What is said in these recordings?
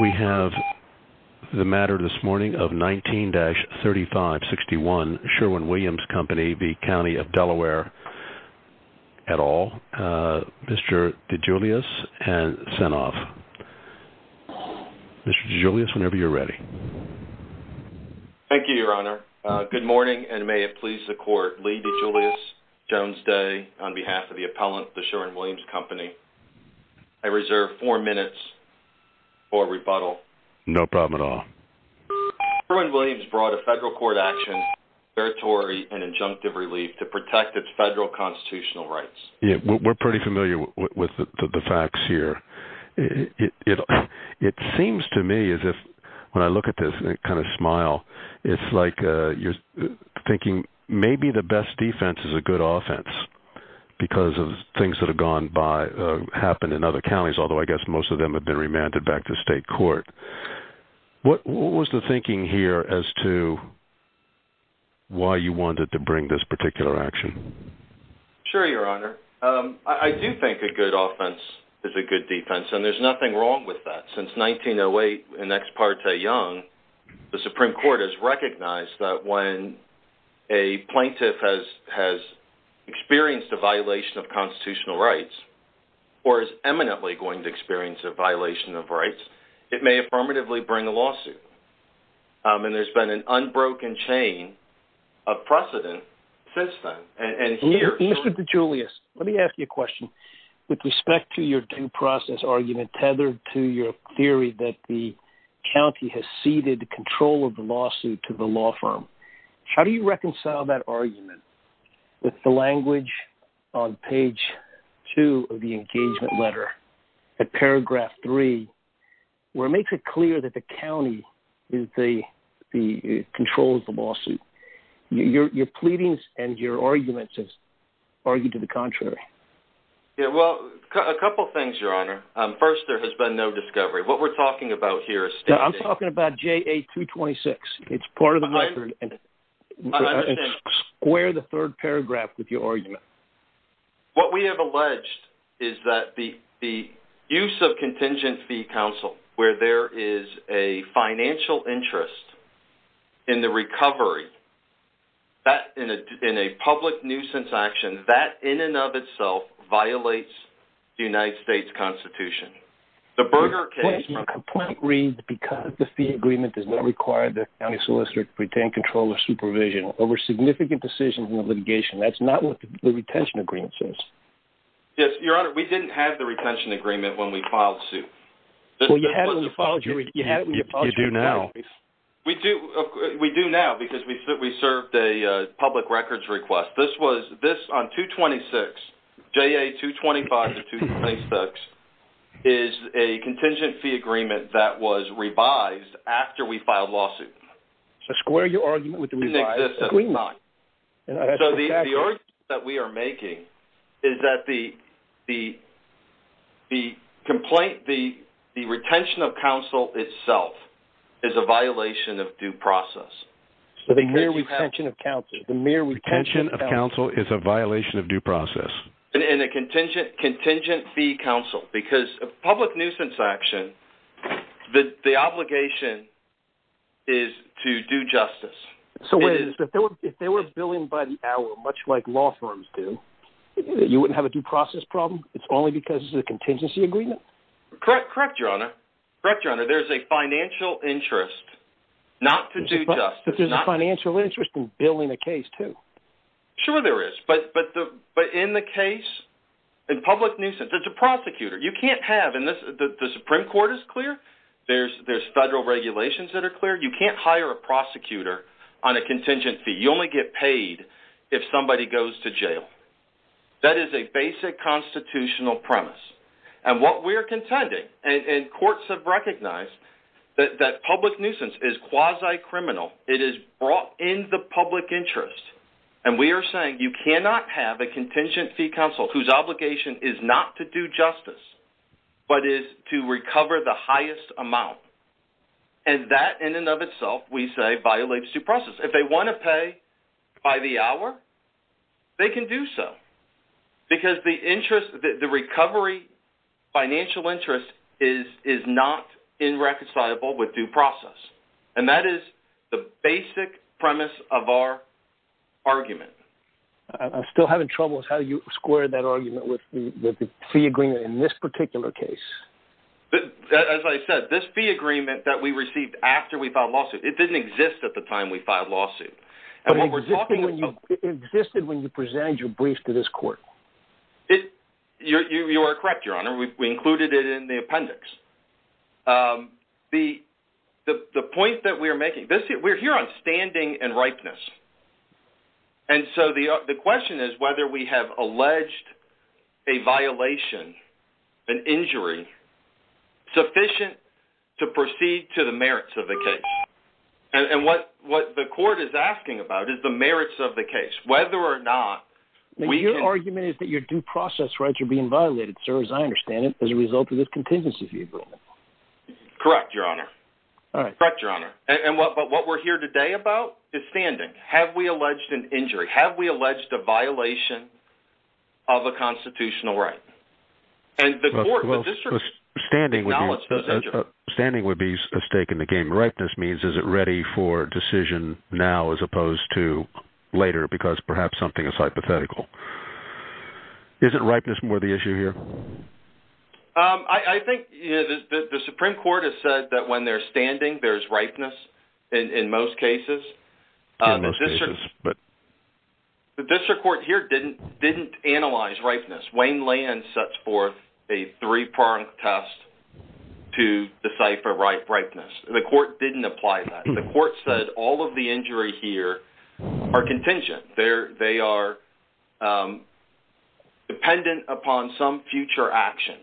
We have the matter this morning of 19-3561 Sherwin Williams Company v. County of Delaware et al. Mr. DeGiulis has sent off. Mr. DeGiulis, whenever you're ready. Thank you, Your Honor. Good morning, and may it please the Court, Lee DeGiulis, Jones Day, on behalf of the appellant, the Sherwin Williams Company, I reserve four minutes for rebuttal. No problem at all. Sherwin Williams brought a federal court action, territory, and injunctive relief to protect its federal constitutional rights. Yeah, we're pretty familiar with the facts here. It seems to me as if when I look at this and kind of smile, it's like you're thinking maybe the best defense is a good offense because of things that have happened in other counties, although I guess most of them have been remanded back to state court. What was the thinking here as to why you wanted to bring this particular action? Sure, Your Honor. I do think a good offense is a good defense, and there's nothing wrong with that. Since 1908 in Ex Parte Young, the Supreme Court has recognized that when a plaintiff has experienced a violation of constitutional rights or is eminently going to experience a violation of rights, it may affirmatively bring a lawsuit, and there's been an unbroken chain of precedent since then. Mr. DeGiulis, let me ask you a question with respect to your due process argument tethered to your theory that the county has ceded control of lawsuit to the law firm. How do you reconcile that argument with the language on page two of the engagement letter at paragraph three, where it makes it clear that the county controls the lawsuit? Your pleadings and your arguments have argued to the contrary. Yeah, well, a couple things, Your Honor. First, there has been no discovery. What we're talking about here is... I'm talking about JA-226. It's part of the record. Square the third paragraph with your argument. What we have alleged is that the use of contingent fee counsel, where there is a financial interest in the recovery in a public nuisance action, that in and of itself violates the United States Constitution. The Berger case... Your complaint reads, because the fee agreement does not require the county solicitor to retain control of supervision over significant decisions in the litigation. That's not what the retention agreement says. Yes, Your Honor. We didn't have the retention agreement when we filed suit. Well, you had it when you filed your... You do now. We do now, because we served a public records request. This on 226, JA-225 to 226, is a contingent fee agreement that was revised after we filed lawsuit. So square your argument with the revised agreement. So the argument that we are making is that the retention of counsel itself is a violation of due process. So the mere retention of counsel... The mere retention of counsel is a violation of due process. And a contingent fee counsel, because a public nuisance action, the obligation is to do justice. So if they were billing by the hour, much like law firms do, you wouldn't have a due process problem? It's only because it's a contingency agreement? Correct, Your Honor. Correct, Your Honor. There's a financial interest not to do justice. There's a financial interest in billing a case, too. Sure there is. But in the case, in public nuisance, there's a prosecutor. You can't have... And the Supreme Court is clear. There's federal regulations that are clear. You can't hire a prosecutor on a contingent fee. You only get paid if somebody goes to jail. That is a basic constitutional premise. And what we're contending, and courts have recognized, that public nuisance is quasi-criminal. It is brought in the public interest. And we are saying you cannot have a contingency counsel whose obligation is not to do justice, but is to recover the highest amount. And that, in and of itself, we say violates due process. If they want to pay by the hour, they can do so. Because the recovery financial interest is not irreconcilable with due process. And that is the basic premise of our argument. I'm still having trouble with how you square that argument with the fee agreement in this particular case. As I said, this fee agreement that we received after we filed a lawsuit, it didn't exist at the time we filed a lawsuit. It existed when you presented your brief to this court. You are correct, Your Honor. We included it in the appendix. The point that we are making, we're here on standing and ripeness. And so the question is whether we have alleged a violation, an injury, sufficient to proceed to the merits of the case. And what the court is asking about is the merits of the case. Whether or not we can... Your argument is that your due process rights are being violated, sir, as I understand it, as a result of this contingency fee agreement. Correct, Your Honor. Correct, Your Honor. But what we're here today about is standing. Have we alleged an injury? Have we alleged a violation of a constitutional right? And the court... Standing would be a stake in the game. Ripeness means is it ready for decision now as opposed to later because perhaps something is hypothetical. Isn't ripeness more the issue here? I think the Supreme Court has said that when they're standing, there's ripeness in most cases. The district court here didn't analyze ripeness. Wayne Land sets forth a three-pronged test to decipher ripeness. The court didn't apply that. The court said all of the injuries here are contingent. They are dependent upon some future action.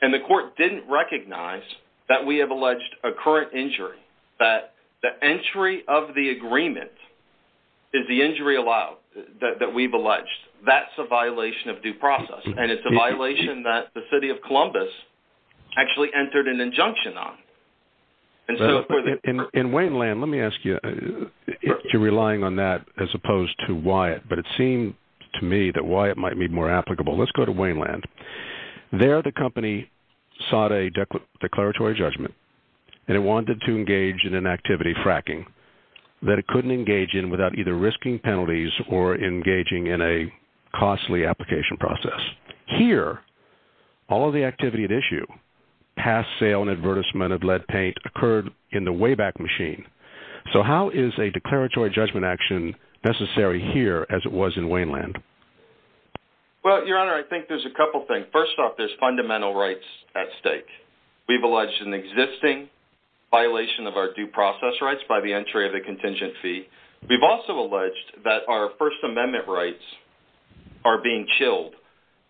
And the court didn't recognize that we have alleged a current injury, that the entry of the agreement is the injury allowed that we've alleged. That's a violation of due process. And it's a violation that the city of Columbus actually entered an injunction on. In Wayne Land, let me ask you, if you're relying on that as opposed to Wyatt, but it seemed to me that Wyatt might be more applicable. Let's go to Wayne Land. There, the company sought a declaratory judgment and it wanted to engage in an activity fracking that it couldn't engage in without either risking penalties or engaging in a costly application process. Here, all of the activity at issue, past sale and advertisement of lead paint occurred in the Wayback Machine. So how is a declaratory judgment action necessary here as it was in Wayne Land? Well, Your Honor, I think there's a couple things. First off, there's fundamental rights at stake. We've alleged an existing violation of our due process rights by the entry of the contingent fee. We've also alleged that our First Amendment rights are being killed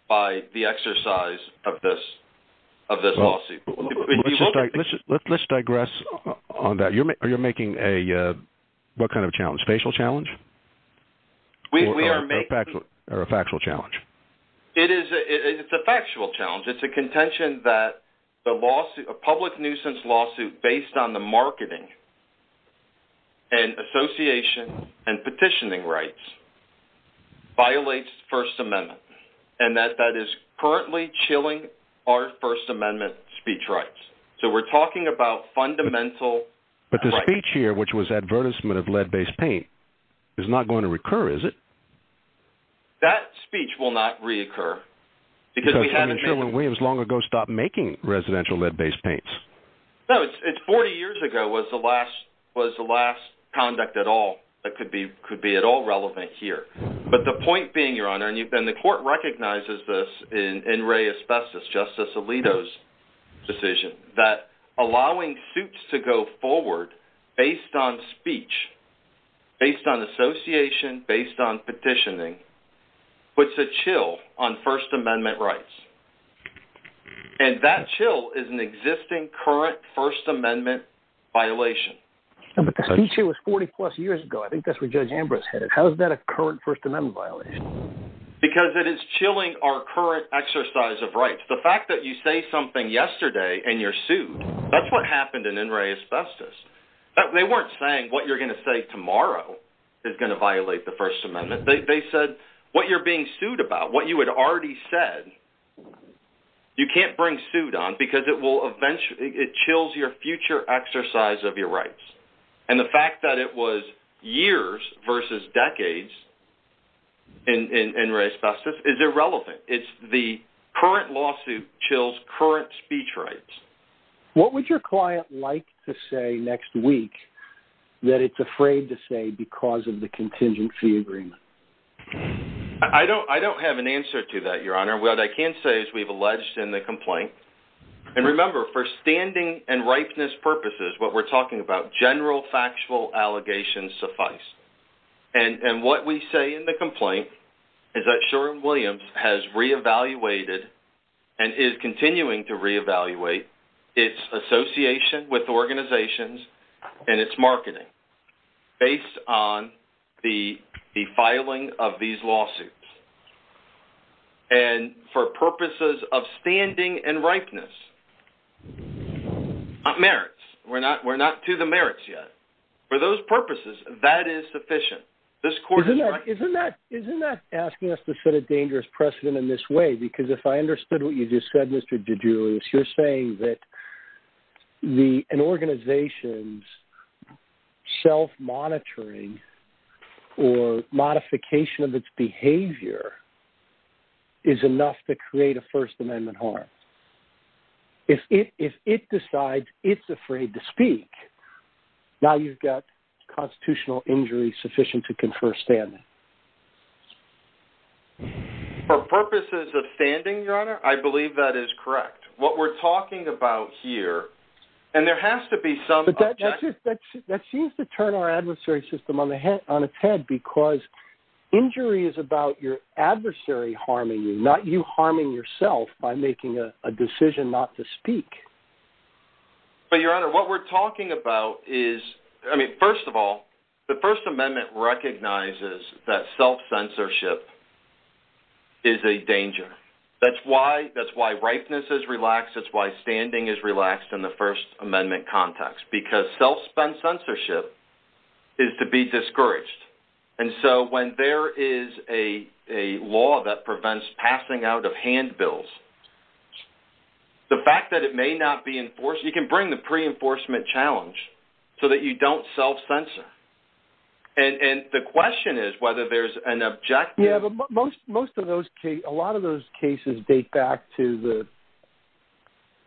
by the exercise of this lawsuit. Let's digress on that. Are you making a, what kind of challenge? Facial challenge? Or a factual challenge? It's a factual challenge. It's a contention that a public nuisance lawsuit based on the marketing and association and petitioning rights violates First Amendment and that that is currently chilling our First Amendment speech rights. So we're talking about fundamental rights. But the speech here, which was advertisement of lead-based paint, is not going to recur, is it? That speech will not reoccur. Because we haven't been sure when Williams long ago stopped making residential lead-based paints. No, it's 40 years ago was the last conduct at all that could be at all relevant here. But the point being, Your Honor, and the court recognizes this in Ray Asbestos, Justice Alito's decision, that allowing suits to go forward based on speech, based on association, based on petitioning, puts a chill on First Amendment violation. No, but the speech here was 40 plus years ago. I think that's where Judge Ambrose had it. How is that a current First Amendment violation? Because it is chilling our current exercise of rights. The fact that you say something yesterday and you're sued, that's what happened in Ray Asbestos. They weren't saying what you're going to say tomorrow is going to violate the First Amendment. They said what you're being sued about, what you had already said, you can't bring suit on because it will eventually, it chills your future exercise of your rights. And the fact that it was years versus decades in Ray Asbestos is irrelevant. It's the current lawsuit chills current speech rights. What would your client like to say next week that it's afraid to say because of the contingency agreement? I don't have an answer to that, Your Honor. What I can say is we've alleged in the complaint, and remember, for standing and ripeness purposes, what we're talking about, general factual allegations suffice. And what we say in the complaint is that Sherwin-Williams has reevaluated and is continuing to reevaluate its association with organizations and its marketing based on the filing of these lawsuits. And for purposes of standing and ripeness, not merits, we're not to the merits yet. For those purposes, that is sufficient. Isn't that asking us to set a dangerous precedent in this way? Because if I understood what you just said, Mr. DeGiulio, you're saying that an organization's self-monitoring or modification of its behavior is enough to create a First Amendment harm. If it decides it's afraid to speak, now you've got constitutional injury sufficient to confer standing. For purposes of standing, Your Honor, I believe that is correct. What we're talking about here and there has to be some... But that seems to turn our adversary system on its head because injury is about your adversary harming you, not you harming yourself by making a decision not to speak. But Your Honor, what we're talking about is, I mean, first of all, the First Amendment recognizes that self-censorship is a danger. That's why ripeness is relaxed. That's why standing is relaxed in the First Amendment context, because self-spent censorship is to be discouraged. And so when there is a law that prevents passing out of handbills, the fact that it may not be enforced... You can bring the pre-enforcement challenge so that you don't self-censor. And the question is whether there's an objective... A lot of those cases date back to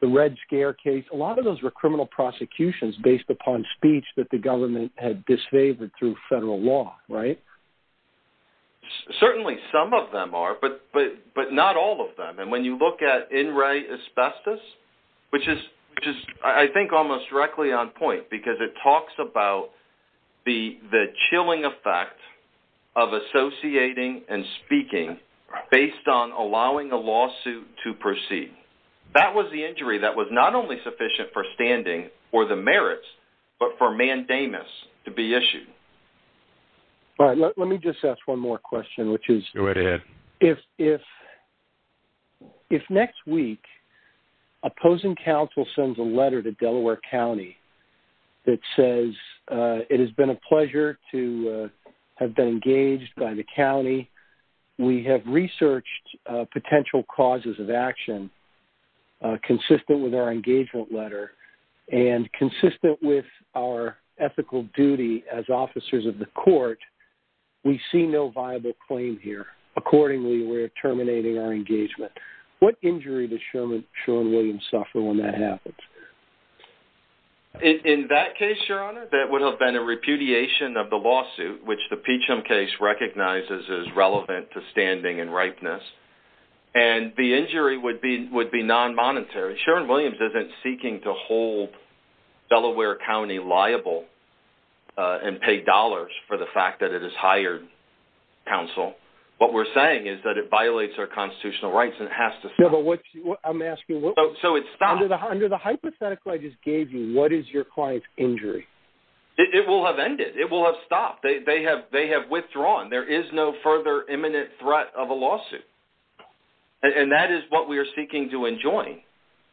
the Red Scare case. A lot of those were criminal prosecutions based upon speech that the government had disfavored through federal law, right? Certainly some of them are, but not all of them. And when you look at in-write asbestos, which is, I think, almost directly on point, because it talks about the chilling effect of associating and speaking based on allowing a lawsuit to proceed. That was the injury that was not only sufficient for standing or the merits, but for mandamus to be issued. All right. Let me just ask one more question, which is... Go right ahead. If next week, opposing counsel sends a letter to Delaware County that says, it has been a pleasure to have been engaged by the county. We have researched potential causes of action consistent with our engagement letter and consistent with our ethical duty as officers of the court. We see no viable claim here. Accordingly, we're terminating our engagement. What injury does Sean Williams suffer when that happens? In that case, Your Honor, that would have been a repudiation of the lawsuit, which the Peachum case recognizes as relevant to standing and ripeness. And the injury would be non-monetary. Sean Williams isn't seeking to hold Delaware County liable and pay dollars for the fact that it has hired counsel. What we're saying is that it violates our constitutional rights and it has to stop. Yeah, but what's... I'm asking what... So it's stopped. Under the hypothetical I just gave you, what is your client's injury? It will have ended. It will have stopped. They have withdrawn. There is no further imminent threat of a lawsuit. And that is what we are seeking to enjoin.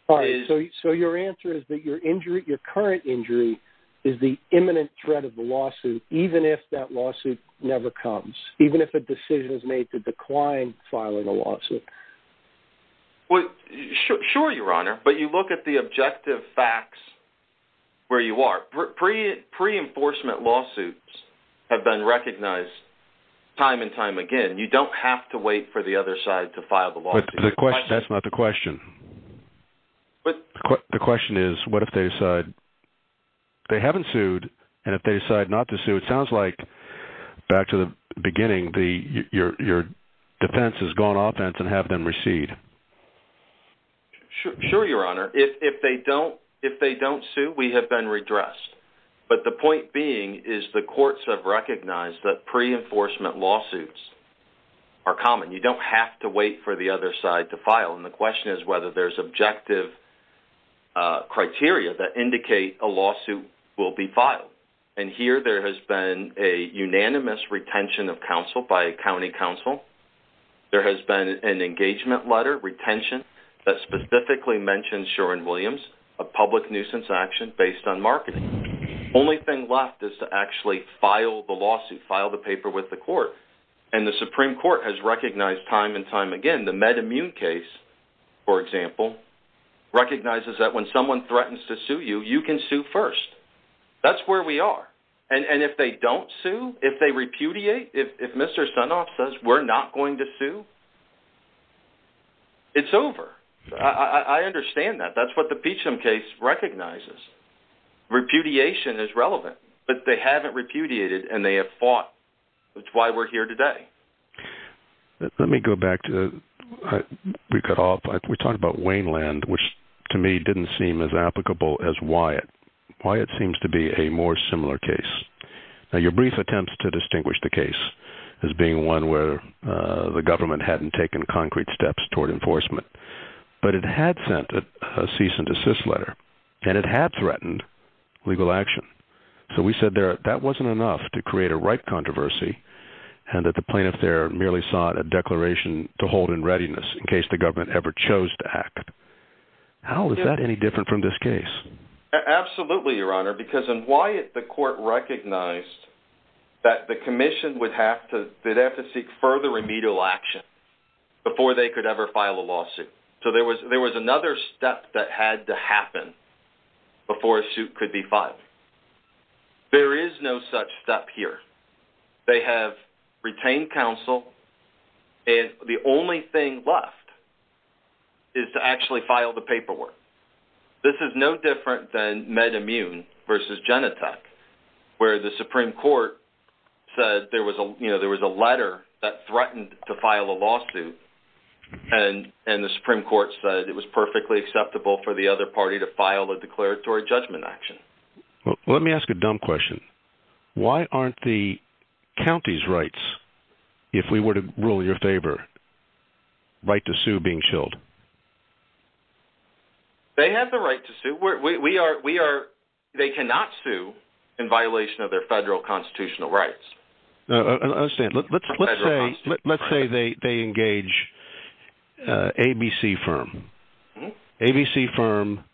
All right. So your answer is that your injury, your current injury, is the imminent threat of the lawsuit, even if that lawsuit never comes, right? Well, sure, Your Honor. But you look at the objective facts where you are. Pre-enforcement lawsuits have been recognized time and time again. You don't have to wait for the other side to file the lawsuit. The question... That's not the question. The question is, what if they decide they haven't sued and if they decide not to sue? It sounds like, back to the beginning, your defense has gone offense and have them recede. Sure, Your Honor. If they don't sue, we have been redressed. But the point being is the courts have recognized that pre-enforcement lawsuits are common. You don't have to wait for the other side to file. And the question is whether there's objective criteria that indicate a lawsuit will be filed. And here there has been a unanimous retention of counsel by a county counsel. There has been an engagement letter, retention, that specifically mentioned Shoren-Williams, a public nuisance action based on marketing. Only thing left is to actually file the lawsuit, file the paper with the court. And the Supreme Court has recognized time and time again. The MedImmune case, for example, recognizes that when someone threatens to sue you, you can sue first. That's where we are. And if they don't sue, if they repudiate, if Mr. Sunoff says, we're not going to sue, it's over. I understand that. That's what the Peachum case recognizes. Repudiation is relevant, but they haven't repudiated and they have fought. That's why we're here today. Let me go back to, we cut off, we talked about Waineland, which to me didn't seem as applicable as Wyatt. Wyatt seems to be a more similar case. Now, your brief attempts to distinguish the case as being one where the government hadn't taken concrete steps toward enforcement, but it had sent a cease and desist letter and it had threatened legal action. So we said there, that wasn't enough to create a ripe controversy and that the plaintiff there merely sought a declaration to hold in readiness in to act. How is that any different from this case? Absolutely, your honor, because in Wyatt, the court recognized that the commission would have to, they'd have to seek further remedial action before they could ever file a lawsuit. So there was, there was another step that had to happen before a suit could be filed. There is no such step here. They have retained counsel and the only thing left is to actually file the paperwork. This is no different than MedImmune versus Genentech, where the Supreme Court said there was a, you know, there was a letter that threatened to file a lawsuit and the Supreme Court said it was perfectly acceptable for the other party to file a declaratory judgment action. Let me ask a dumb question. Why aren't the county's rights, if we were to rule your favor, right to sue being chilled? They have the right to sue. We are, we are, they cannot sue in violation of their federal constitutional rights. I understand. Let's say, let's say they, they engage ABC firm. ABC firm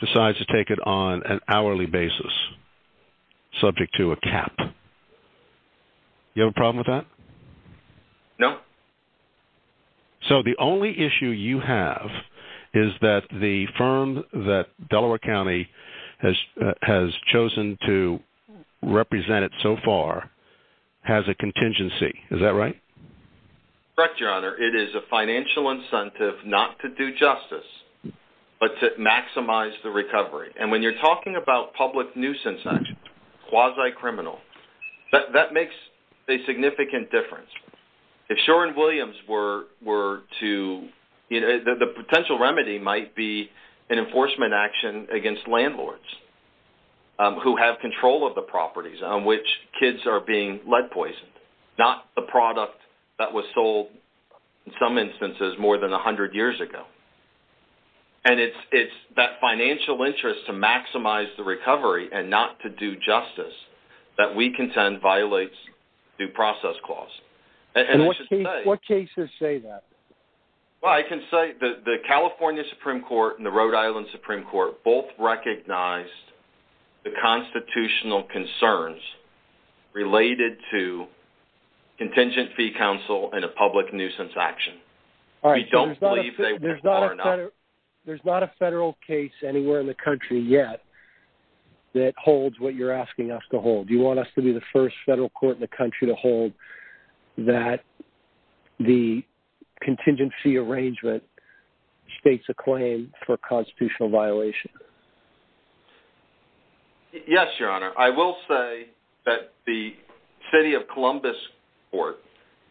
decides to take it on an hourly basis, subject to a cap. You have a problem with that? No. So the only issue you have is that the firm that Delaware County has, has chosen to represent it so far has a contingency. Is that right? Correct, your honor. It is a financial incentive not to do justice, but to maximize the recovery. And when you're talking about public nuisance action, quasi-criminal, that makes a significant difference. If Shore and Williams were, were to, you know, the potential remedy might be an enforcement action against landlords who have control of the properties on which kids are being lead poisoned, not the product that was sold in some instances more than a hundred years ago. And it's, it's that financial interest to maximize the recovery and not to do justice that we contend violates due process clause. What cases say that? Well, I can say that the California Supreme Court and the Rhode Island Supreme Court both recognized the constitutional concerns related to contingent fee council and a public nuisance action. We don't believe that there's not a federal case anywhere in the country yet that holds what you're asking us to hold. You want us to be the first federal court in the country to hold that the contingency arrangement states a claim for constitutional violation. Yes, your honor. I will say that the city of Columbus court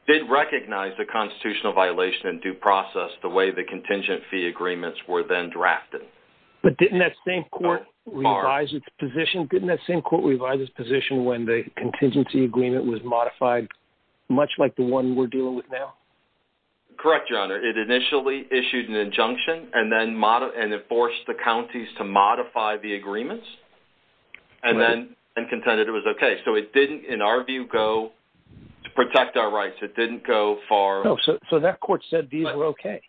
did recognize the constitutional violation and due process the way the contingency agreements were then drafted. But didn't that same court revise its position? Didn't that same court revise its position when the contingency agreement was modified much like the one we're dealing with now? Correct, your honor. It initially issued an injunction and then mod and it forced the counties to modify the agreements and then, and contended it was okay. So it didn't, in our view, go to protect our rights. It didn't go far. So that court said these were okay.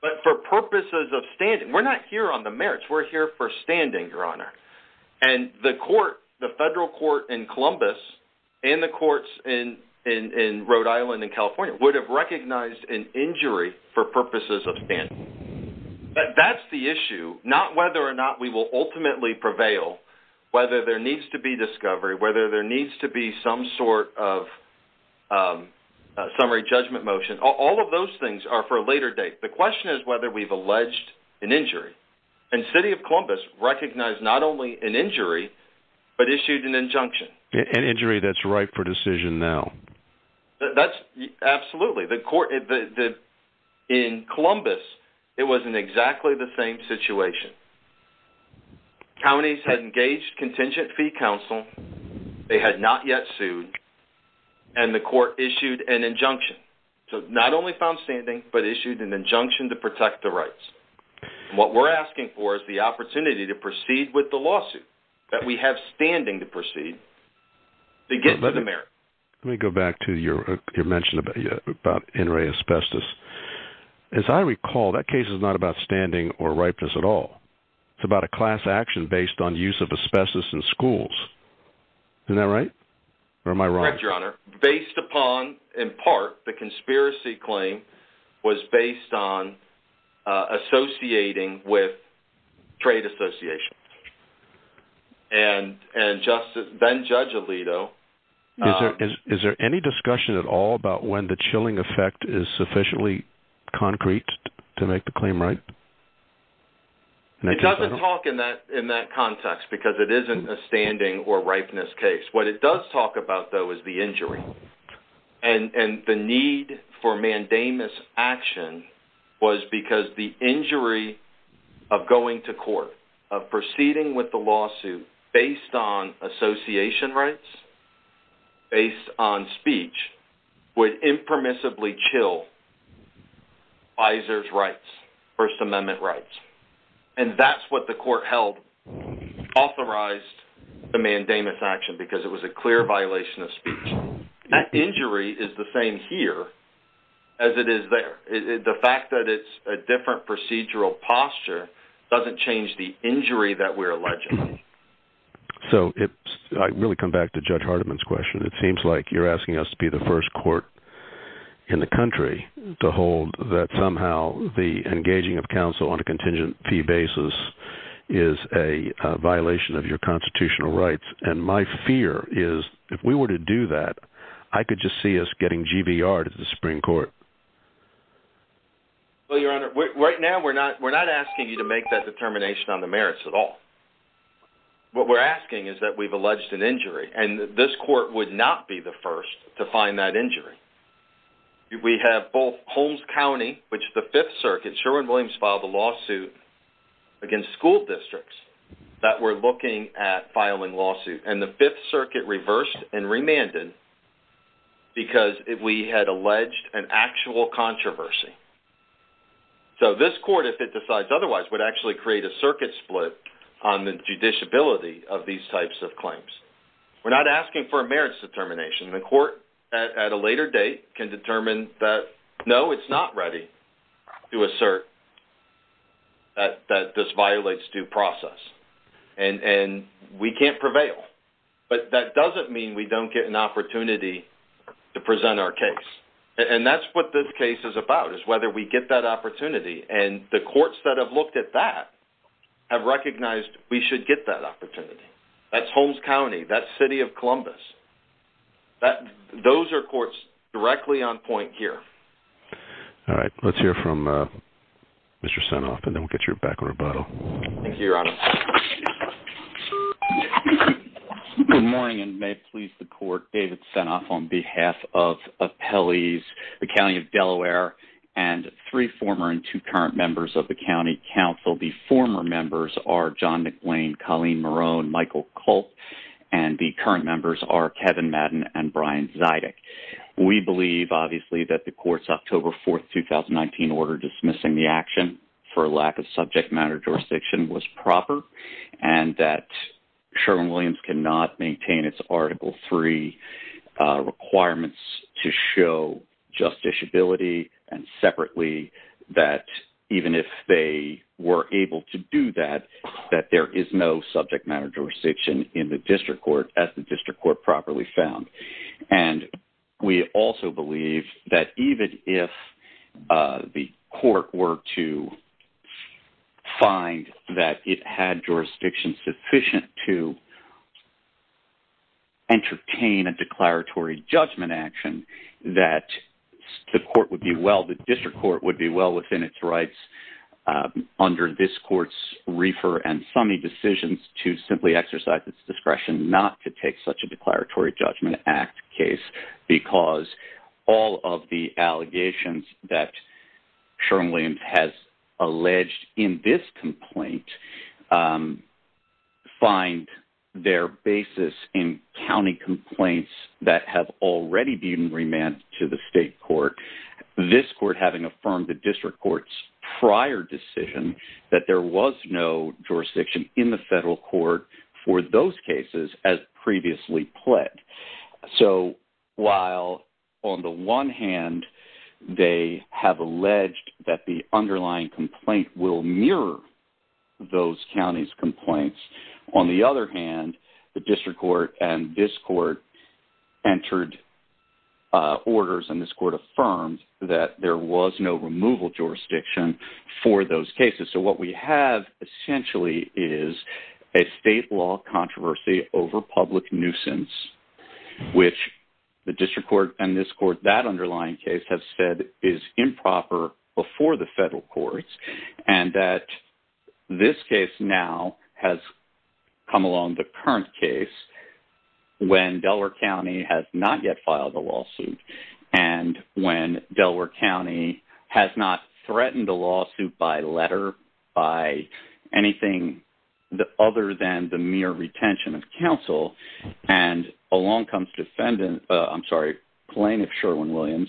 But for purposes of standing, we're not here on the merits. We're here for standing, your honor. And the court, the federal court in Columbus and the courts in Rhode Island and California would have recognized an injury for purposes of standing. That's the issue, not whether or not we will ultimately prevail, whether there needs to be discovery, whether there needs to be some sort of summary judgment motion. All of those things are for a later date. The question is whether we've alleged an injury. And city of Columbus recognized not only an injury, but issued an injunction. An injury that's ripe for decision now. That's absolutely. The court, in Columbus, it was in exactly the same situation. Counties had engaged contingent fee counsel. They had not yet sued. And the court issued an injunction. So not only found standing, but issued an injunction to protect the rights. And what we're asking for is the opportunity to proceed with the lawsuit that we have standing to proceed to get to the merits. Let me go back to your mention about in-ray asbestos. As I recall, that case is not about standing or ripeness at all. It's about a class action based on use of asbestos in schools. Isn't that right? Or am I wrong? Based upon, in part, the conspiracy claim was based on associating with trade associations. And then Judge Alito. Is there any discussion at all about when the chilling effect is sufficiently concrete to make the claim right? It doesn't talk in that context because it isn't a standing or ripeness case. What it does talk about, though, is the injury. And the need for mandamus action was because the injury of going to court, of proceeding with the lawsuit based on association rights, based on speech, would impermissibly chill FISER's rights, First Amendment rights. And that's what the court held authorized the mandamus action because it was a clear violation of speech. That injury is the same here as it is there. The fact that it's a different procedural posture doesn't change the injury that we're alleging. So I really come back to Judge Hardiman's question. It seems like you're asking us to the first court in the country to hold that somehow the engaging of counsel on a contingent fee basis is a violation of your constitutional rights. And my fear is if we were to do that, I could just see us getting GBR to the Supreme Court. Well, Your Honor, right now we're not we're not asking you to make that determination on the merits at all. What we're asking is that we've alleged an injury and this court would not be the first to find that injury. We have both Holmes County, which the Fifth Circuit, Sherwin-Williams filed a lawsuit against school districts that were looking at filing lawsuit, and the Fifth Circuit reversed and remanded because we had alleged an actual controversy. So this court, if it decides otherwise, would actually create a circuit split on the judiciability of these types of claims. We're not asking for a merits determination. The court at a later date can determine that, no, it's not ready to assert that this violates due process. And we can't prevail. But that doesn't mean we don't get an opportunity to present our case. And that's what this case is about, is whether we get that we should get that opportunity. That's Holmes County, that's City of Columbus. Those are courts directly on point here. All right, let's hear from Mr. Senoff, and then we'll get you back on rebuttal. Thank you, Your Honor. Good morning, and may it please the Court, David Senoff on behalf of Appellees, the County of Delaware, and three former and two current members of the County Council. The former members are John McBlain, Colleen Marone, Michael Culp, and the current members are Kevin Madden and Brian Zydig. We believe, obviously, that the Court's October 4th, 2019 order dismissing the action for lack of subject matter jurisdiction was proper, and that Sherwin-Williams cannot maintain its Article III requirements to show justiciability and separately that even if they were able to do that, there is no subject matter jurisdiction in the District Court, as the District Court properly found. And we also believe that even if the Court were to find that it had jurisdiction sufficient to entertain a declaratory judgment action, that the District Court would be well within its rights under this Court's reefer and summy decisions to simply exercise its discretion not to take such a declaratory judgment act case, because all of the allegations that Sherwin-Williams has alleged in this complaint find their basis in county complaints that have already been remanded to the State Court, this Court having affirmed the District Court's prior decision that there was no jurisdiction in the Federal Court for those cases as previously pled. So while on the one hand they have alleged that the underlying complaint will mirror those counties' complaints, on the other hand, the District Court and this Court entered orders and this Court affirmed that there was no removal jurisdiction for those cases. So what we have essentially is a state law controversy over public nuisance, which the District Court and this Court, that underlying case have said is improper before the Federal Courts, and that this case now has come along, the current case, when Delaware County has not yet filed a lawsuit and when Delaware County has not threatened a lawsuit by letter, by anything other than the mere retention of counsel, and along comes defendant, I'm sorry, plaintiff Sherwin-Williams,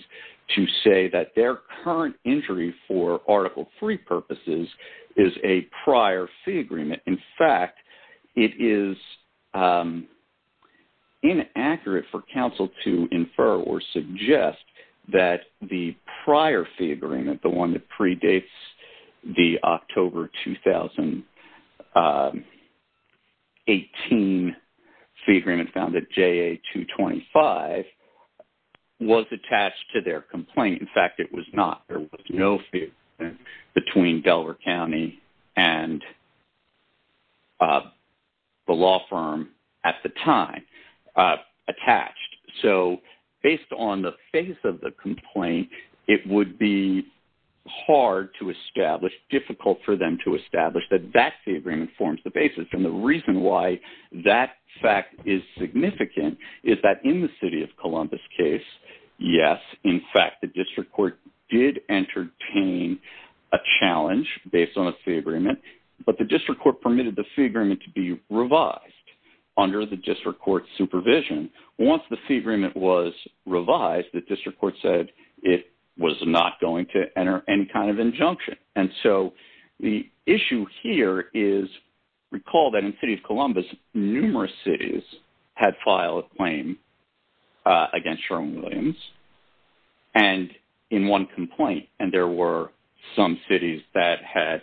to say that their current injury for Article III purposes is a prior fee agreement. In fact, it is inaccurate for counsel to infer or suggest that the prior fee agreement, the one that predates the October 2018 fee agreement found at JA 225, was attached to their complaint. In fact, it was not. There was no fee agreement between Delaware County and the law firm at the time attached. So based on the face of the complaint, it would be hard to establish, difficult for them to establish that that fee agreement forms the basis. And the reason why that fact is significant is that in the City of Columbus case, yes, in fact, the District Court did entertain a challenge based on a fee agreement, but the District Court permitted the fee agreement to be revised under the District Court supervision. Once the fee agreement was revised, the District Court said it was not going to enter any kind of injunction. And so the issue here is, recall that in the City of Columbus, numerous cities had filed a claim against Sherwin-Williams and in one complaint, and there were some cities that had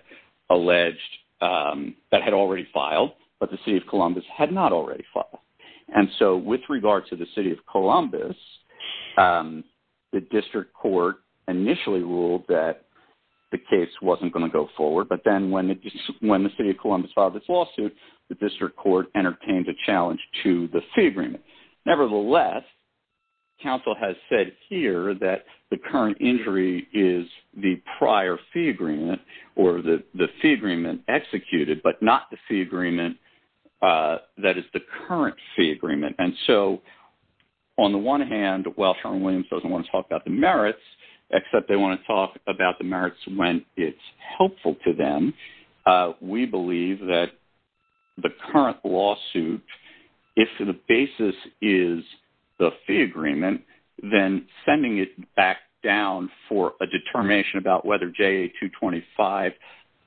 alleged, that had already filed, but the City of Columbus had not already filed. And so with regard to the City of Columbus, the District Court initially ruled that the case wasn't going to go forward. But then when the City of Columbus filed this lawsuit, the District Court entertained a challenge to the fee agreement. Nevertheless, counsel has said here that the current injury is the prior fee agreement or the fee agreement executed, but not the fee agreement that is the current fee agreement. And so on the one hand, while Sherwin-Williams doesn't want to talk about the merits, except they want to talk about the merits when it's helpful to them, we believe that the current lawsuit, if the basis is the fee agreement, then sending it back down for a determination about whether JA 225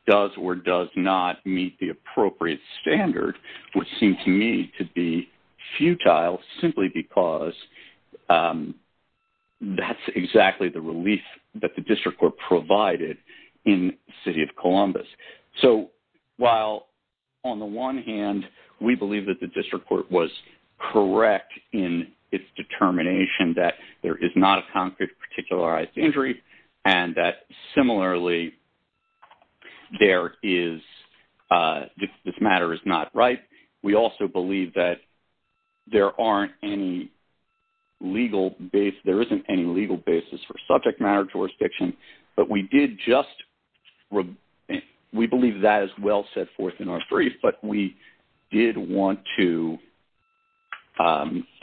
does or does not meet the appropriate standard, which seems to me to be futile, simply because that's exactly the relief that the District Court provided in the City of Columbus. So while on the one hand, we believe that the District Court was correct in its determination that there is not a concrete particularized injury, and that similarly, this matter is not right, we also believe that there isn't any legal basis for subject matter jurisdiction, but we did just... We believe that is well set forth in our brief, but we did want to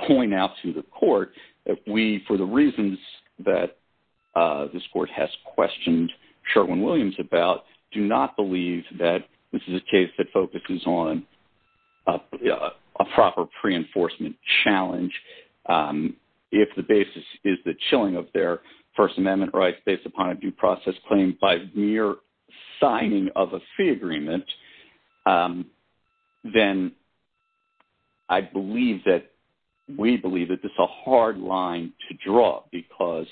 point out to the court that we, for the reasons that this court has questioned Sherwin-Williams about, do not believe that this is a case that focuses on a proper pre-enforcement challenge. If the basis is the chilling of their First Amendment rights based upon a due process claim by mere signing of a fee agreement, then I believe that we believe that this is a hard line to draw because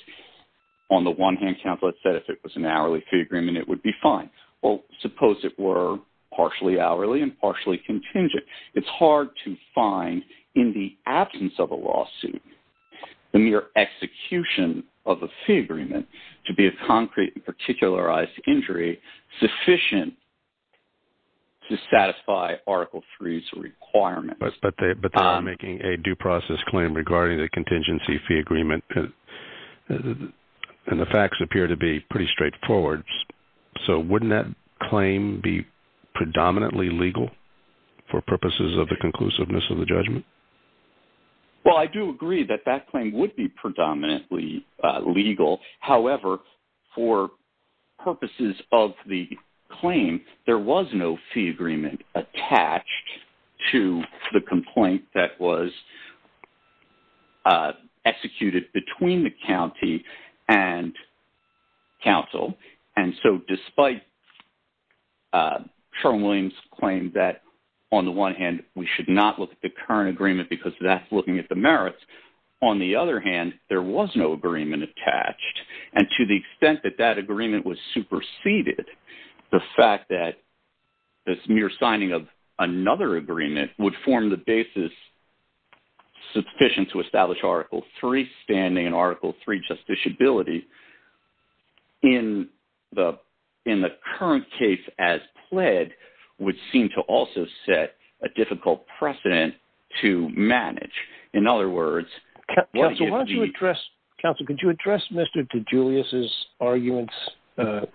on the one hand, counsel has said, if it was an hourly fee agreement, it would be fine. Well, suppose it were partially hourly and partially contingent. It's hard to find in the absence of a lawsuit, the mere execution of a fee agreement to be a concrete and particularized injury sufficient to satisfy Article III's requirements. But they are making a due process claim regarding the contingency fee agreement, and the facts appear to be pretty straightforward. So wouldn't that claim be predominantly legal for purposes of the conclusiveness of the judgment? Well, I do agree that that claim would be predominantly legal. However, for purposes of the claim, there was no fee agreement attached to the complaint that was on the one hand, we should not look at the current agreement because that's looking at the merits. On the other hand, there was no agreement attached. And to the extent that that agreement was superseded, the fact that this mere signing of another agreement would form the basis sufficient to establish Article III standing and Article III justiciability in the current case as pled, would seem to also set a difficult precedent to manage. In other words, Counsel, could you address Mr. DeGiulis' arguments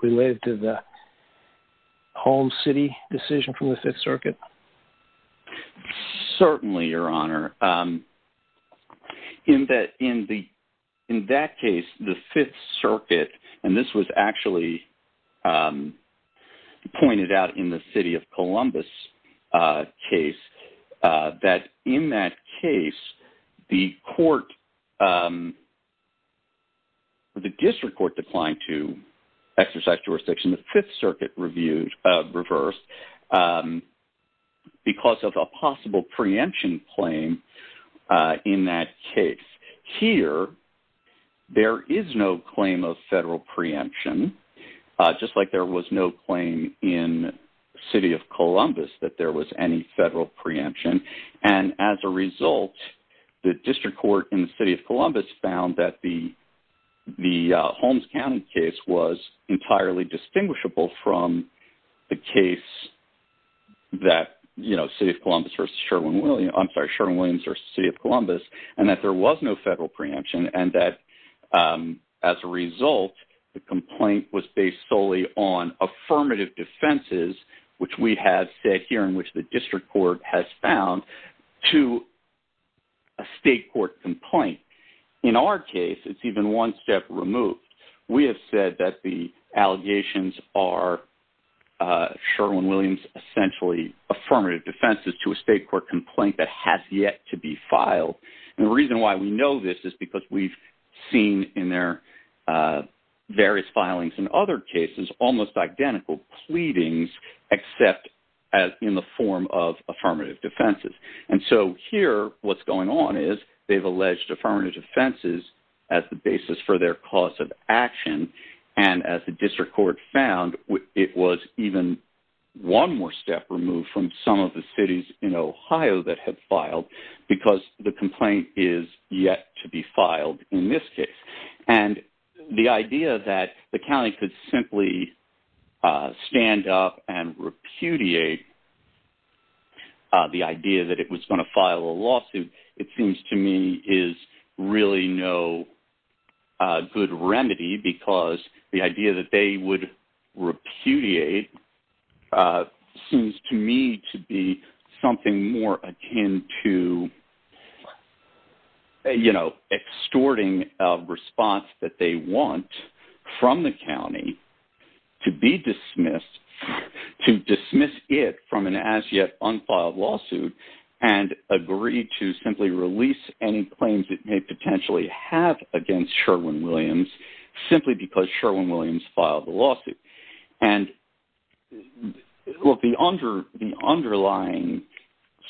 related to the home city decision from the Fifth Circuit? Certainly, Your Honor. In that case, the Fifth Circuit, and this was actually pointed out in the City of Columbus case, that in that case, the District Court declined to because of a possible preemption claim in that case. Here, there is no claim of federal preemption, just like there was no claim in City of Columbus that there was any federal preemption. And as a result, the District Court in the City of Columbus found that the Holmes County case was City of Columbus versus City of Columbus, and that there was no federal preemption, and that as a result, the complaint was based solely on affirmative defenses, which we have said here, in which the District Court has found, to a state court complaint. In our case, it's even one step removed. We have said that the allegations are essentially affirmative defenses to a state court complaint that has yet to be filed. And the reason why we know this is because we've seen in their various filings in other cases, almost identical pleadings, except in the form of affirmative defenses. And so here, what's going on is they've alleged affirmative defenses as the basis for their cause of action. And as the District Court found, it was even one more step removed from some of the cities in Ohio that have filed because the complaint is yet to be filed in this case. And the idea that the county could simply stand up and repudiate the idea that it was going to file a lawsuit, it seems to me is really no good remedy, because the idea that they would repudiate seems to me to be something more akin to, you know, extorting a response that they want from the county to be dismissed, to dismiss it from an as yet unfiled lawsuit, and agree to simply release any claims it may potentially have against Sherwin-Williams, simply because Sherwin-Williams filed the lawsuit. And the underlying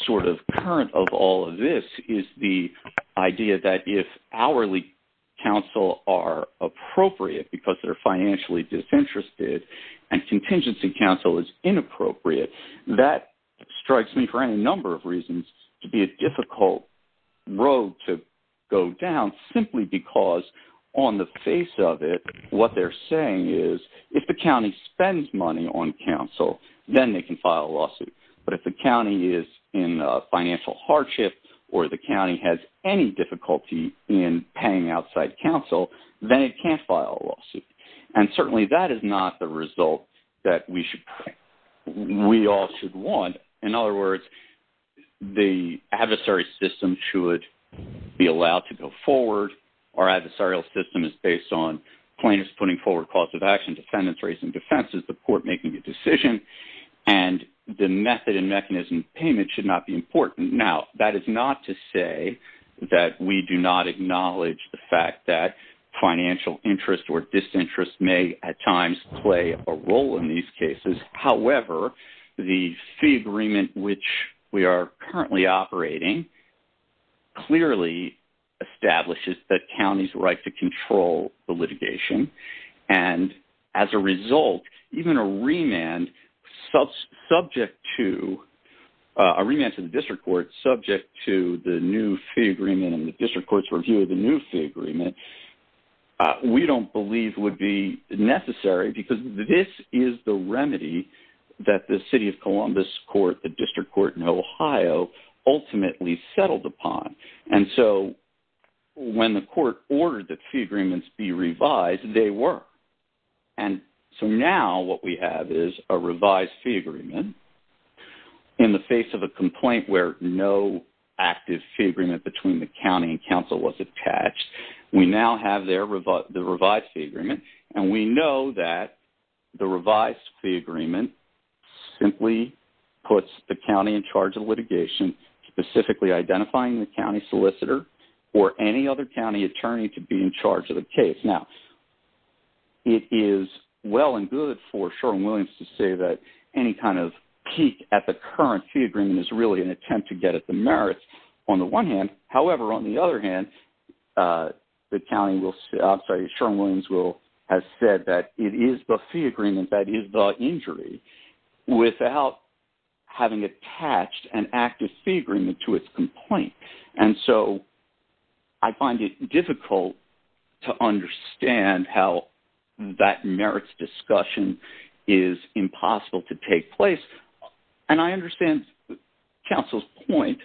sort of current of all of this is the idea that if hourly counsel are appropriate because they're financially disinterested, and contingency counsel is inappropriate, that strikes me for any number of reasons to be a difficult road to go down, simply because on the face of it, what they're saying is, if the county spends money on counsel, then they can file a lawsuit. But if the county is in financial hardship, or the county has any difficulty in paying outside counsel, then it is not the result that we all should want. In other words, the adversary system should be allowed to go forward. Our adversarial system is based on plaintiffs putting forward calls of action, defendants raising defenses, the court making a decision, and the method and mechanism of payment should not be important. Now, that is not to say that we do not acknowledge the fact that play a role in these cases. However, the fee agreement, which we are currently operating, clearly establishes that counties right to control the litigation. And as a result, even a remand subject to a remand to the district court subject to the new fee agreement and the because this is the remedy that the city of Columbus court, the district court in Ohio, ultimately settled upon. And so when the court ordered the fee agreements be revised, they were. And so now what we have is a revised fee agreement. In the face of a complaint where no active fee agreement between the county and counsel was attached, we now have their revised fee agreement. And we know that the revised fee agreement simply puts the county in charge of litigation, specifically identifying the county solicitor or any other county attorney to be in charge of the case. Now, it is well and good for Sherwin-Williams to say that any kind of peak at the current fee agreement is really an attempt to get at the merits on the one hand. However, on the other hand, the county will say Sherwin-Williams will have said that it is the fee agreement that is the injury without having attached an active fee agreement to its complaint. And so I find it difficult to understand how that merits discussion is impossible to take place. And I understand counsel's point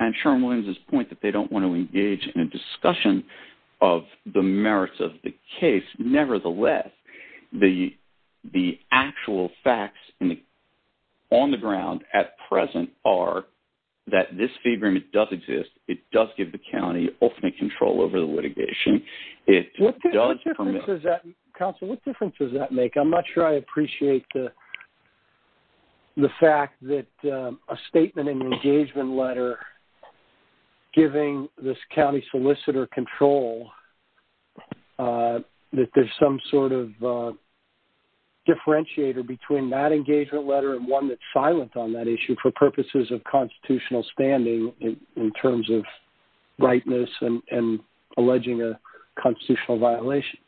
and Sherwin-Williams' point that they don't want to engage in a discussion of the merits of the case. Nevertheless, the actual facts on the ground at present are that this fee agreement does exist. It does give the county ultimate control over the litigation. It does permit... Counsel, what difference does that make? I'm not sure I appreciate the fact that a statement in the engagement letter giving this county solicitor control that there's some sort of differentiator between that engagement letter and one that's silent on that issue for purposes of constitutional standing in terms of constitutional violation.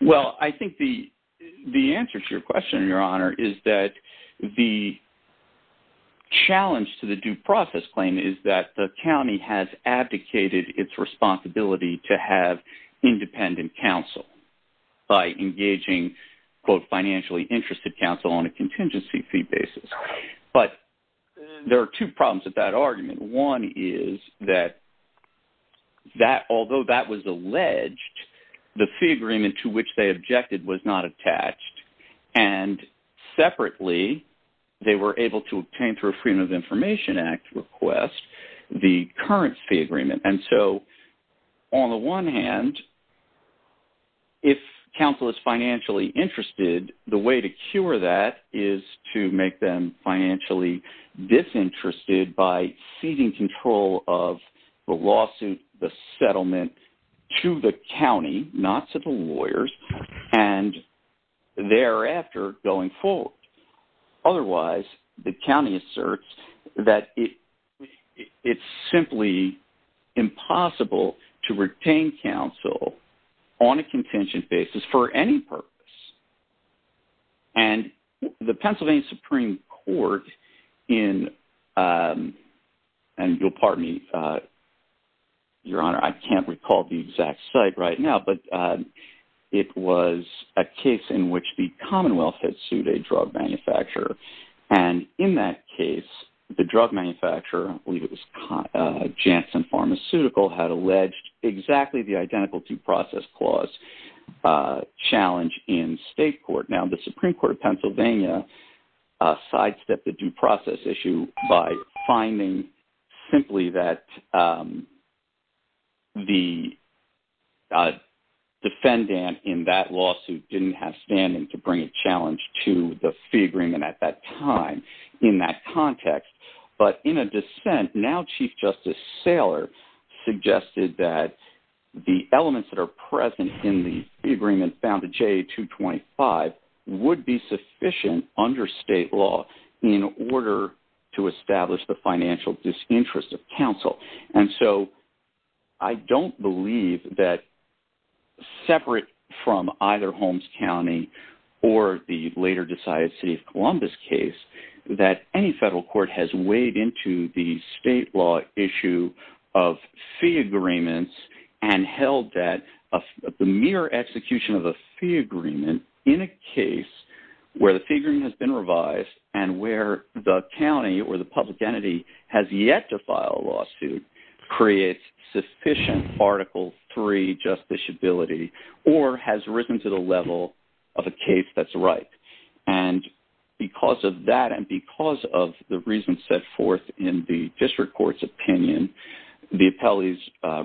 Well, I think the answer to your question, Your Honor, is that the challenge to the due process claim is that the county has abdicated its responsibility to have independent counsel by engaging, quote, financially interested counsel on a contingency fee basis. But there are two problems with that argument. One is that although that was alleged, the fee agreement to which they objected was not attached. And separately, they were able to obtain through Freedom of Information Act request the current fee agreement. And so on the one hand, if counsel is financially interested, the way to cure that is to make them financially disinterested by seizing control of the lawsuit, the settlement to the county, not to the lawyers, and thereafter going forward. Otherwise, the county asserts that it's simply impossible to retain counsel on a contingent basis for any purpose. And the Pennsylvania Supreme Court in, and you'll pardon me, Your Honor, I can't recall the exact site right now. But it was a case in which the Commonwealth had sued a drug manufacturer. And in that case, the drug manufacturer was Janssen Pharmaceutical had alleged exactly the identical due process clause challenge in state court. Now, the Supreme Court of Pennsylvania sidestepped the due process issue by finding simply that the defendant in that lawsuit didn't have standing to bring a challenge to the fee at that time in that context. But in a dissent, now Chief Justice Saylor suggested that the elements that are present in the agreement found to J.A. 225 would be sufficient under state law in order to establish the financial disinterest of counsel. And so I don't believe that from either Holmes County, or the later decided City of Columbus case, that any federal court has weighed into the state law issue of fee agreements and held that the mere execution of a fee agreement in a case where the fee agreement has been revised, and where the county or the public entity has yet to file a lawsuit creates sufficient Article III justiciability, or has risen to the level of a case that's right. And because of that, and because of the reason set forth in the district court's opinion, the appellees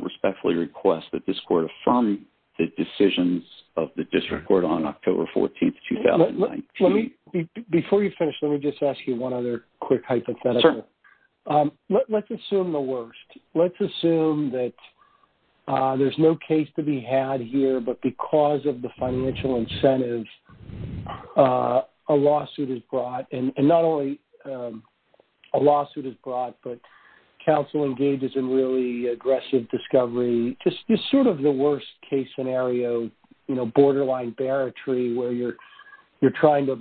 respectfully request that this court affirm the decisions of the district court on October 14, 2019. Let me, before you finish, let me just ask you one other quick hypothetical. Let's assume the worst. Let's assume that there's no case to be had here, but because of the financial incentives, a lawsuit is brought. And not only a lawsuit is brought, but counsel engages in really aggressive discovery, just sort of the worst case scenario, you know, borderline barratry, where you're, you're trying to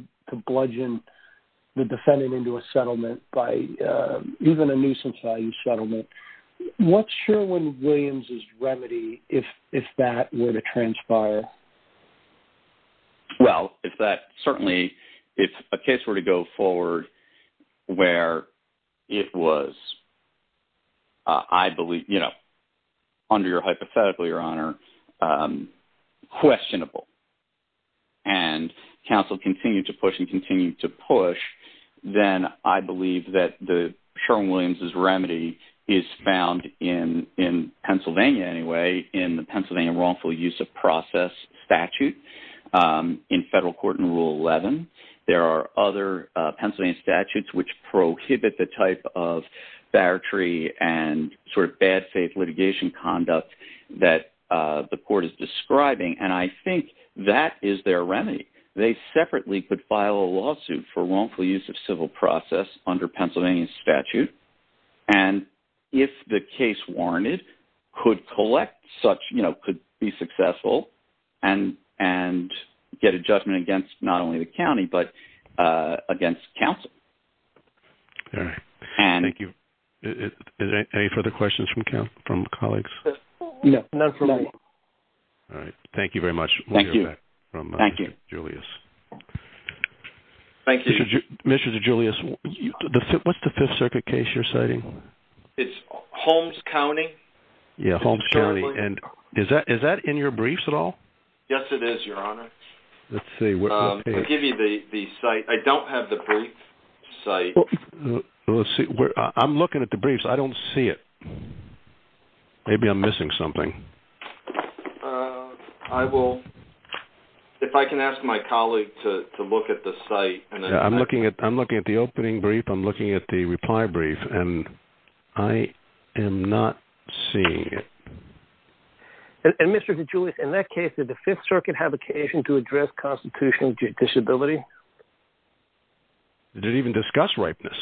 bludgeon the defendant into a settlement by even a nuisance value settlement. What's Sherwin-Williams' remedy if that were to transpire? Well, it's that certainly, if a case were to go forward, where it was, I believe, you know, under your hypothetical, Your Honor, questionable, and counsel continue to push and continue to push, then I believe that the Sherwin-Williams' remedy is found in Pennsylvania anyway, in the Pennsylvania wrongful use of process statute in federal court in Rule 11. There are other Pennsylvania statutes which prohibit the type of barratry and sort of bad faith litigation conduct that the court is describing. And I think that is their remedy. They separately could file a lawsuit for wrongful use of civil process under Pennsylvania statute. And if the case warranted could collect such, you know, could be successful, and, and get a but against counsel. All right. Thank you. Any further questions from colleagues? No, not for me. All right. Thank you very much. Thank you. Thank you, Julius. Thank you. Mr. Julius, what's the Fifth Circuit case you're citing? It's Holmes County. Yeah, Holmes County. And is that is that in your briefs at all? Yes, it is, Your Honor. I'll give you the site. I don't have the brief site. Let's see. I'm looking at the briefs. I don't see it. Maybe I'm missing something. I will, if I can ask my colleague to look at the site. I'm looking at, I'm looking at the opening brief. I'm looking at the reply brief, and I am not seeing it. And Mr. Julius, in that case, did the Fifth Circuit have occasion to address constitutional disability? Did it even discuss ripeness?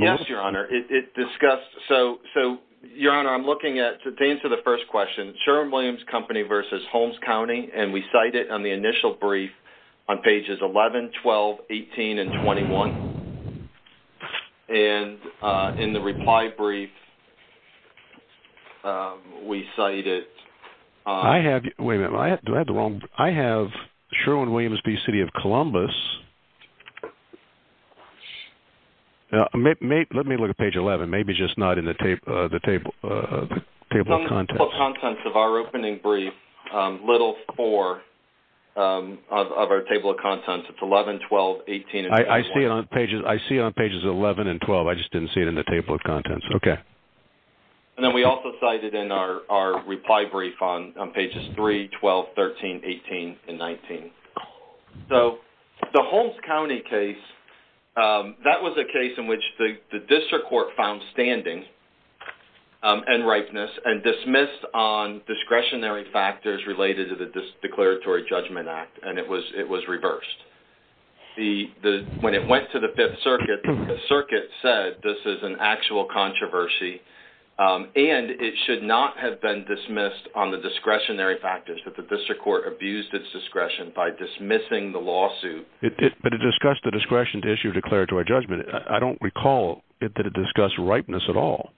Yes, Your Honor, it discussed. So, so, Your Honor, I'm looking at to answer the first question, Sherwin-Williams Company versus Holmes County, and we cite it on the initial brief on pages 11, 12, 18, and 21. And in the reply brief, we cite it. I have, wait a minute, do I have the wrong, I have Sherwin-Williams v. City of Columbus. Let me look at page 11, maybe just not in the table, the table of contents. Of our opening brief, little four of our table of contents, it's 11, 12, 18, and 21. I see it on pages, I see on pages 11 and 12. I just didn't see it in the table of contents. Okay. And then we also cite it in our reply brief on pages 3, 12, 13, 18, and 19. So, the Holmes County case, that was a case in which the district court found standing and ripeness and dismissed on discretionary factors related to the Declaratory Judgment Act, and it was, it was reversed. The, the, when it went to the Fifth Circuit, the Circuit said this is an actual controversy, and it should not have been dismissed on the discretionary factors that the district court abused its discretion by dismissing the lawsuit. But it discussed the discretion to issue declaratory judgment. I don't recall that it discussed ripeness at all.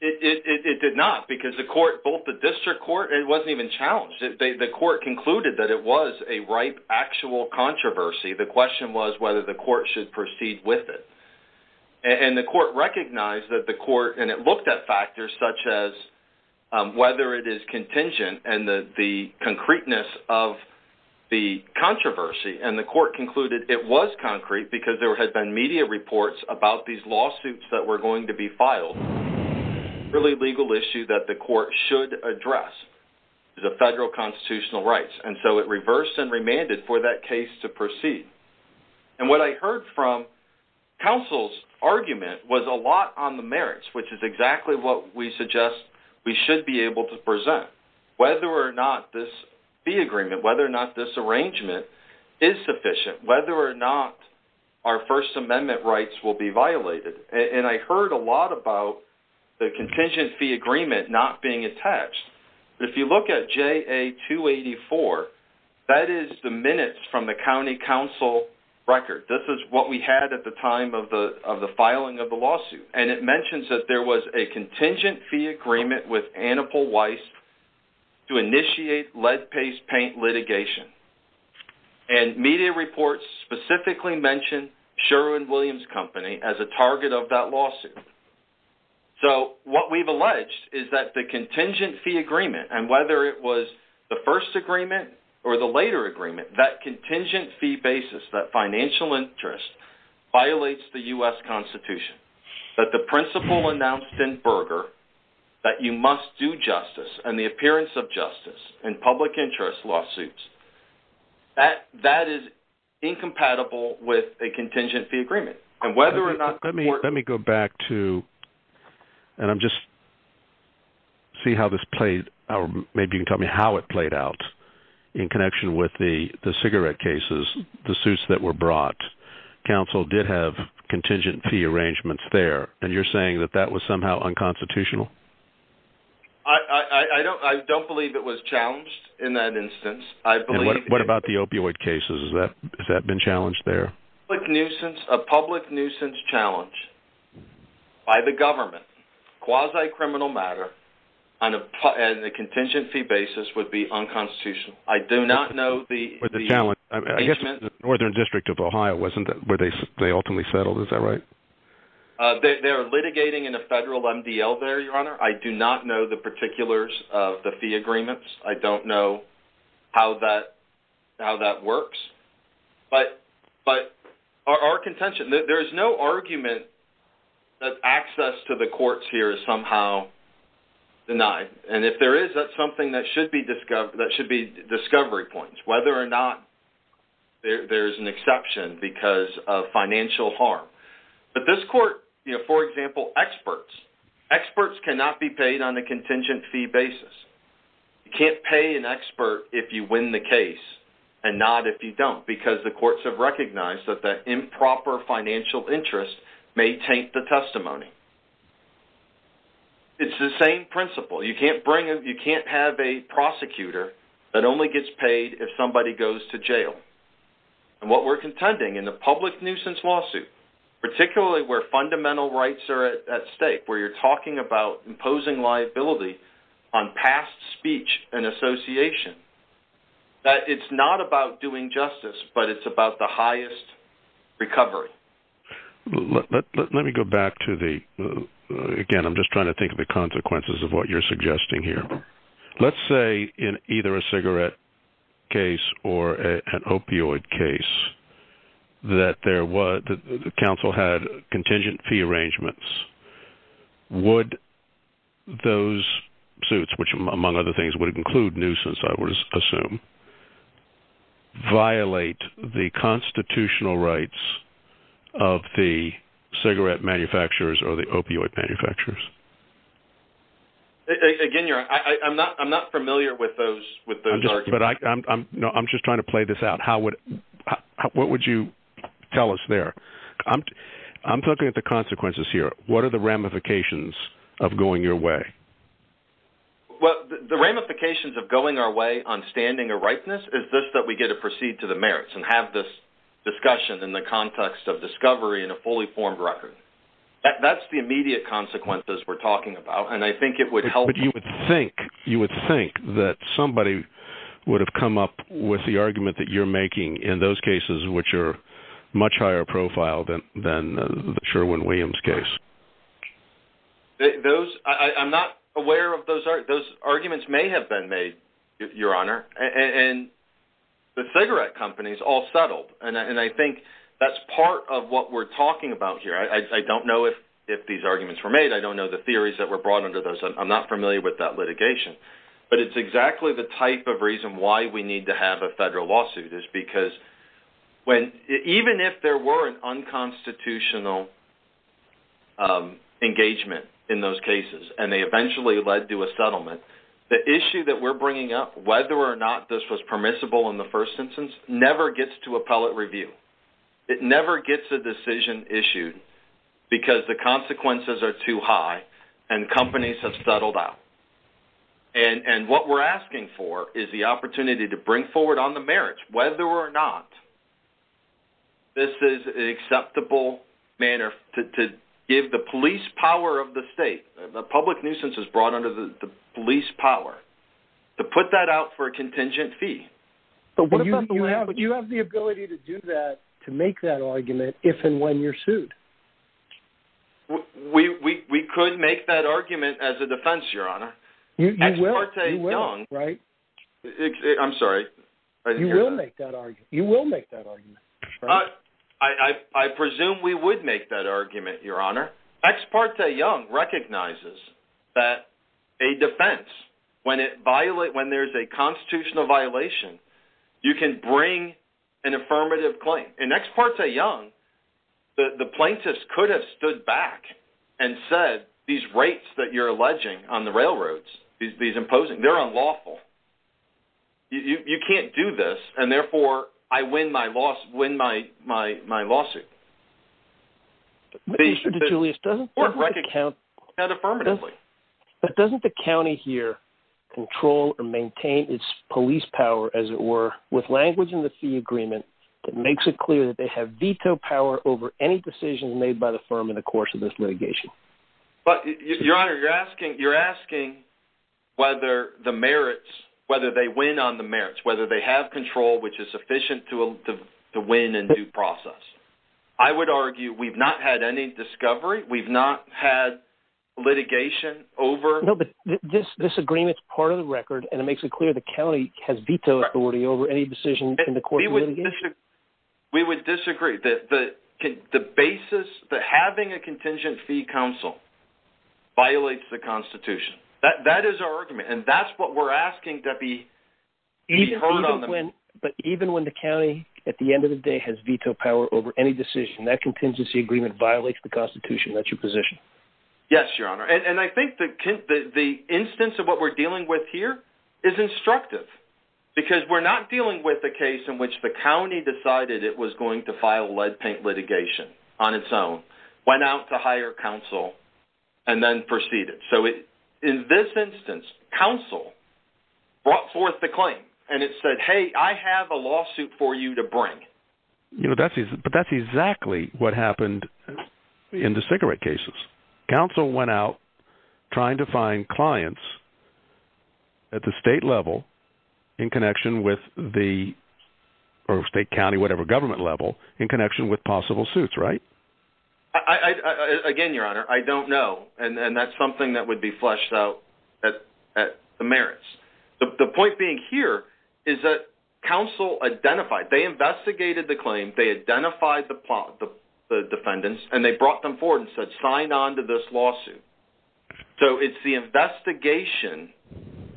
It, it, it did not, because the court, both the district court, and it wasn't even challenged. The court concluded that it was a ripe, actual controversy. The question was whether the court should proceed with it. And the court recognized that the court, and it looked at factors such as whether it is contingent and the, the concreteness of the controversy. And the court concluded it was concrete because there had been media reports about these lawsuits that were going to be filed. Really legal issue that the court should address is the federal constitutional rights. And so, it reversed and remanded for that case to proceed. And what I heard from counsel's argument was a lot on the merits, which is exactly what we suggest we should be able to present, whether or not this fee agreement, whether or not this arrangement is sufficient, whether or not our First Amendment rights will be violated. And I heard a lot about the contingent fee agreement not being attached. If you look at JA-284, that is the minutes from the county council record. This is what we had at the time of the, of the filing of the lawsuit. And it was a JA-288 lead paste paint litigation. And media reports specifically mentioned Sherwin-Williams Company as a target of that lawsuit. So, what we've alleged is that the contingent fee agreement, and whether it was the first agreement or the later agreement, that contingent fee basis, that financial interest, violates the U.S. Constitution. But the principle announced in Berger that you must do justice and the appearance of justice in public interest lawsuits, that is incompatible with a contingent fee agreement. And whether or not... Let me go back to, and I'm just, see how this played, or maybe you can tell me how it played out in connection with the cigarette cases, the suits that were brought. Council did have contingent fee arrangements there, and you're saying that that was somehow unconstitutional? I, I don't, I don't believe it was challenged in that instance. I believe... What about the opioid cases? Is that, has that been challenged there? Public nuisance, a public nuisance challenge by the government, quasi-criminal matter, on a contingent fee basis would be unconstitutional. I do not know the... I guess the Northern District of Ohio wasn't, where they ultimately settled, is that right? They're litigating in a federal MDL there, Your Honor. I do not know the particulars of the fee agreements. I don't know how that, how that works. But, but our contention, there is no argument that access to the courts here is somehow denied. And if there is, that's something that should be discovered, that should be discovery points, whether or not there's an exception because of financial harm. But this court, you know, for example, experts, experts cannot be paid on a contingent fee basis. You can't pay an expert if you win the case, and not if you don't, because the courts have recognized that the improper financial interest may taint the testimony. It's the same principle. You can't bring, you can't have a prosecutor that only gets paid if somebody goes to jail. And what we're contending in the public nuisance lawsuit, particularly where fundamental rights are at stake, where you're talking about imposing liability on past speech and association, that it's not about doing justice, but it's about the highest recovery. Let me go back to the, again, I'm just trying to think of the consequences of what you're suggesting here. Let's say in either a cigarette case or an opioid case, that there was, the council had contingent fee arrangements. Would those suits, which among other things would include nuisance, I would assume, violate the constitutional rights of the cigarette manufacturers or the opioid manufacturers? Again, you're, I'm not, I'm not familiar with those, with those arguments. But I'm, no, I'm just trying to play this out. How would, what would you tell us there? I'm talking about the consequences here. What are the ramifications of going your way? Well, the ramifications of going our way on standing a rightness is this, that we get to proceed to the merits and have this discussion in the context of discovery in a fully formed record. That's the immediate consequences we're talking about. And I think it would help. But you would think, you would think that somebody would have come up with the argument that you're making in those cases, which are much higher profile than the Sherwin-Williams case. Those, I'm not aware of those, those arguments may have been made, Your Honor. And the cigarette companies all settled. And I think that's part of what we're talking about here. I don't know if, if these arguments were made. I don't know the theories that were brought under those. I'm not familiar with that litigation. But it's exactly the type of reason why we need to have a federal lawsuit is because when, even if there were an unconstitutional engagement in those cases, and they eventually led to a settlement, the issue that we're bringing up, whether or not this was permissible in the first instance, never gets to appellate review. It never gets a decision issued because the consequences are too high and companies have settled out. And what we're asking for is the opportunity to bring forward on the merits, whether or not this is an acceptable manner to give the police power of the state, the public nuisance is brought under the police power, to put that out for a contingent fee. But you have the ability to do that, to make that argument if and when you're sued. We could make that argument as a defense, Your Honor. You will make that argument. I presume we would make that argument, Your Honor. Ex parte Young recognizes that a defense, when there's a constitutional violation, you can bring an affirmative claim. In ex parte Young, the plaintiffs could have stood back and said, these rates that you're alleging on the railroads, these imposing, they're unlawful. You can't do this, and therefore, I win my lawsuit. But doesn't the county here control or maintain its police power, as it were, with language in the fee agreement that makes it clear that they have veto power over any But, Your Honor, you're asking whether the merits, whether they win on the merits, whether they have control, which is sufficient to win in due process. I would argue we've not had any discovery. We've not had litigation over... No, but this agreement's part of the record, and it makes it clear the county has veto authority over any decision in the court. We would disagree. The basis that having a contingent fee counsel violates the Constitution. That is our argument, and that's what we're asking to be heard on. But even when the county, at the end of the day, has veto power over any decision, that contingency agreement violates the Constitution. That's your position. Yes, Your Honor, and I think the instance of what we're dealing with here is instructive, because we're not dealing with a case in which the county decided it was going to file lead paint litigation on its own, went out to hire counsel, and then proceeded. So in this instance, counsel brought forth the claim, and it said, hey, I have a lawsuit for you to bring. But that's exactly what happened in the cigarette cases. Counsel went out trying to find clients at the state level in connection with the... Or state, county, whatever, government level, in connection with possible suits, right? Again, Your Honor, I don't know, and that's something that would be fleshed out at the merits. The point being here is that counsel identified, they investigated the claim, they identified the defendants, and they brought them forward and said, sign on to this lawsuit. So it's the investigation,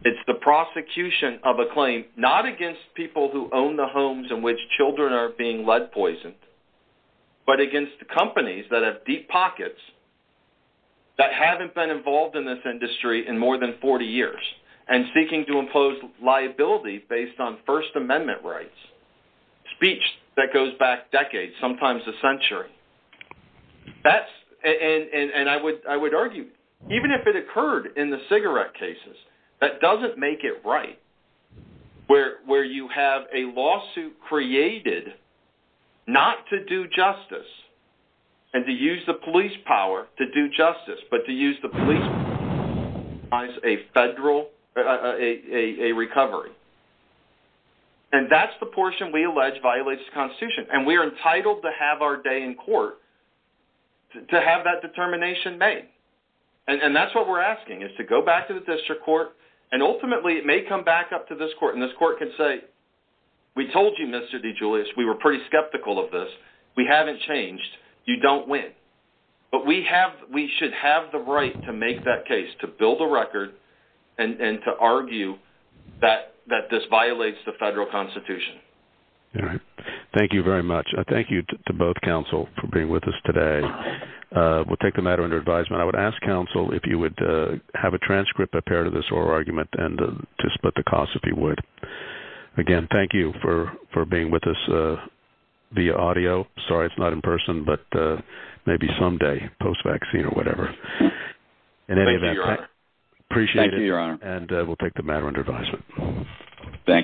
it's the prosecution of a claim, not against people who own the homes in which children are being lead poisoned, but against the companies that have deep pockets, that haven't been involved in this industry in more than 40 years, and seeking to impose liability based on First Amendment rights. Speech that goes back decades, sometimes a century. That's... And I would argue, even if it occurred in the cigarette cases, that doesn't make it right, where you have a lawsuit created not to do justice, and to use the police power to do it. And we are entitled to have our day in court, to have that determination made. And that's what we're asking, is to go back to the district court, and ultimately, it may come back up to this court, and this court can say, we told you, Mr. DeGiulio, we were pretty skeptical of this, we haven't changed, you don't win. But we should have the right to make that case, to build a record, and to argue that this violates the federal constitution. All right. Thank you very much. Thank you to both counsel for being with us today. We'll take the matter under advisement. I would ask counsel if you would have a transcript, a pair to this oral argument, and to split the cost if you would. Again, thank you for being with us via audio. Sorry, it's not in person, but maybe someday, post-vaccine or whatever. In any event, appreciate it, and we'll take the matter under advisement. Thank you.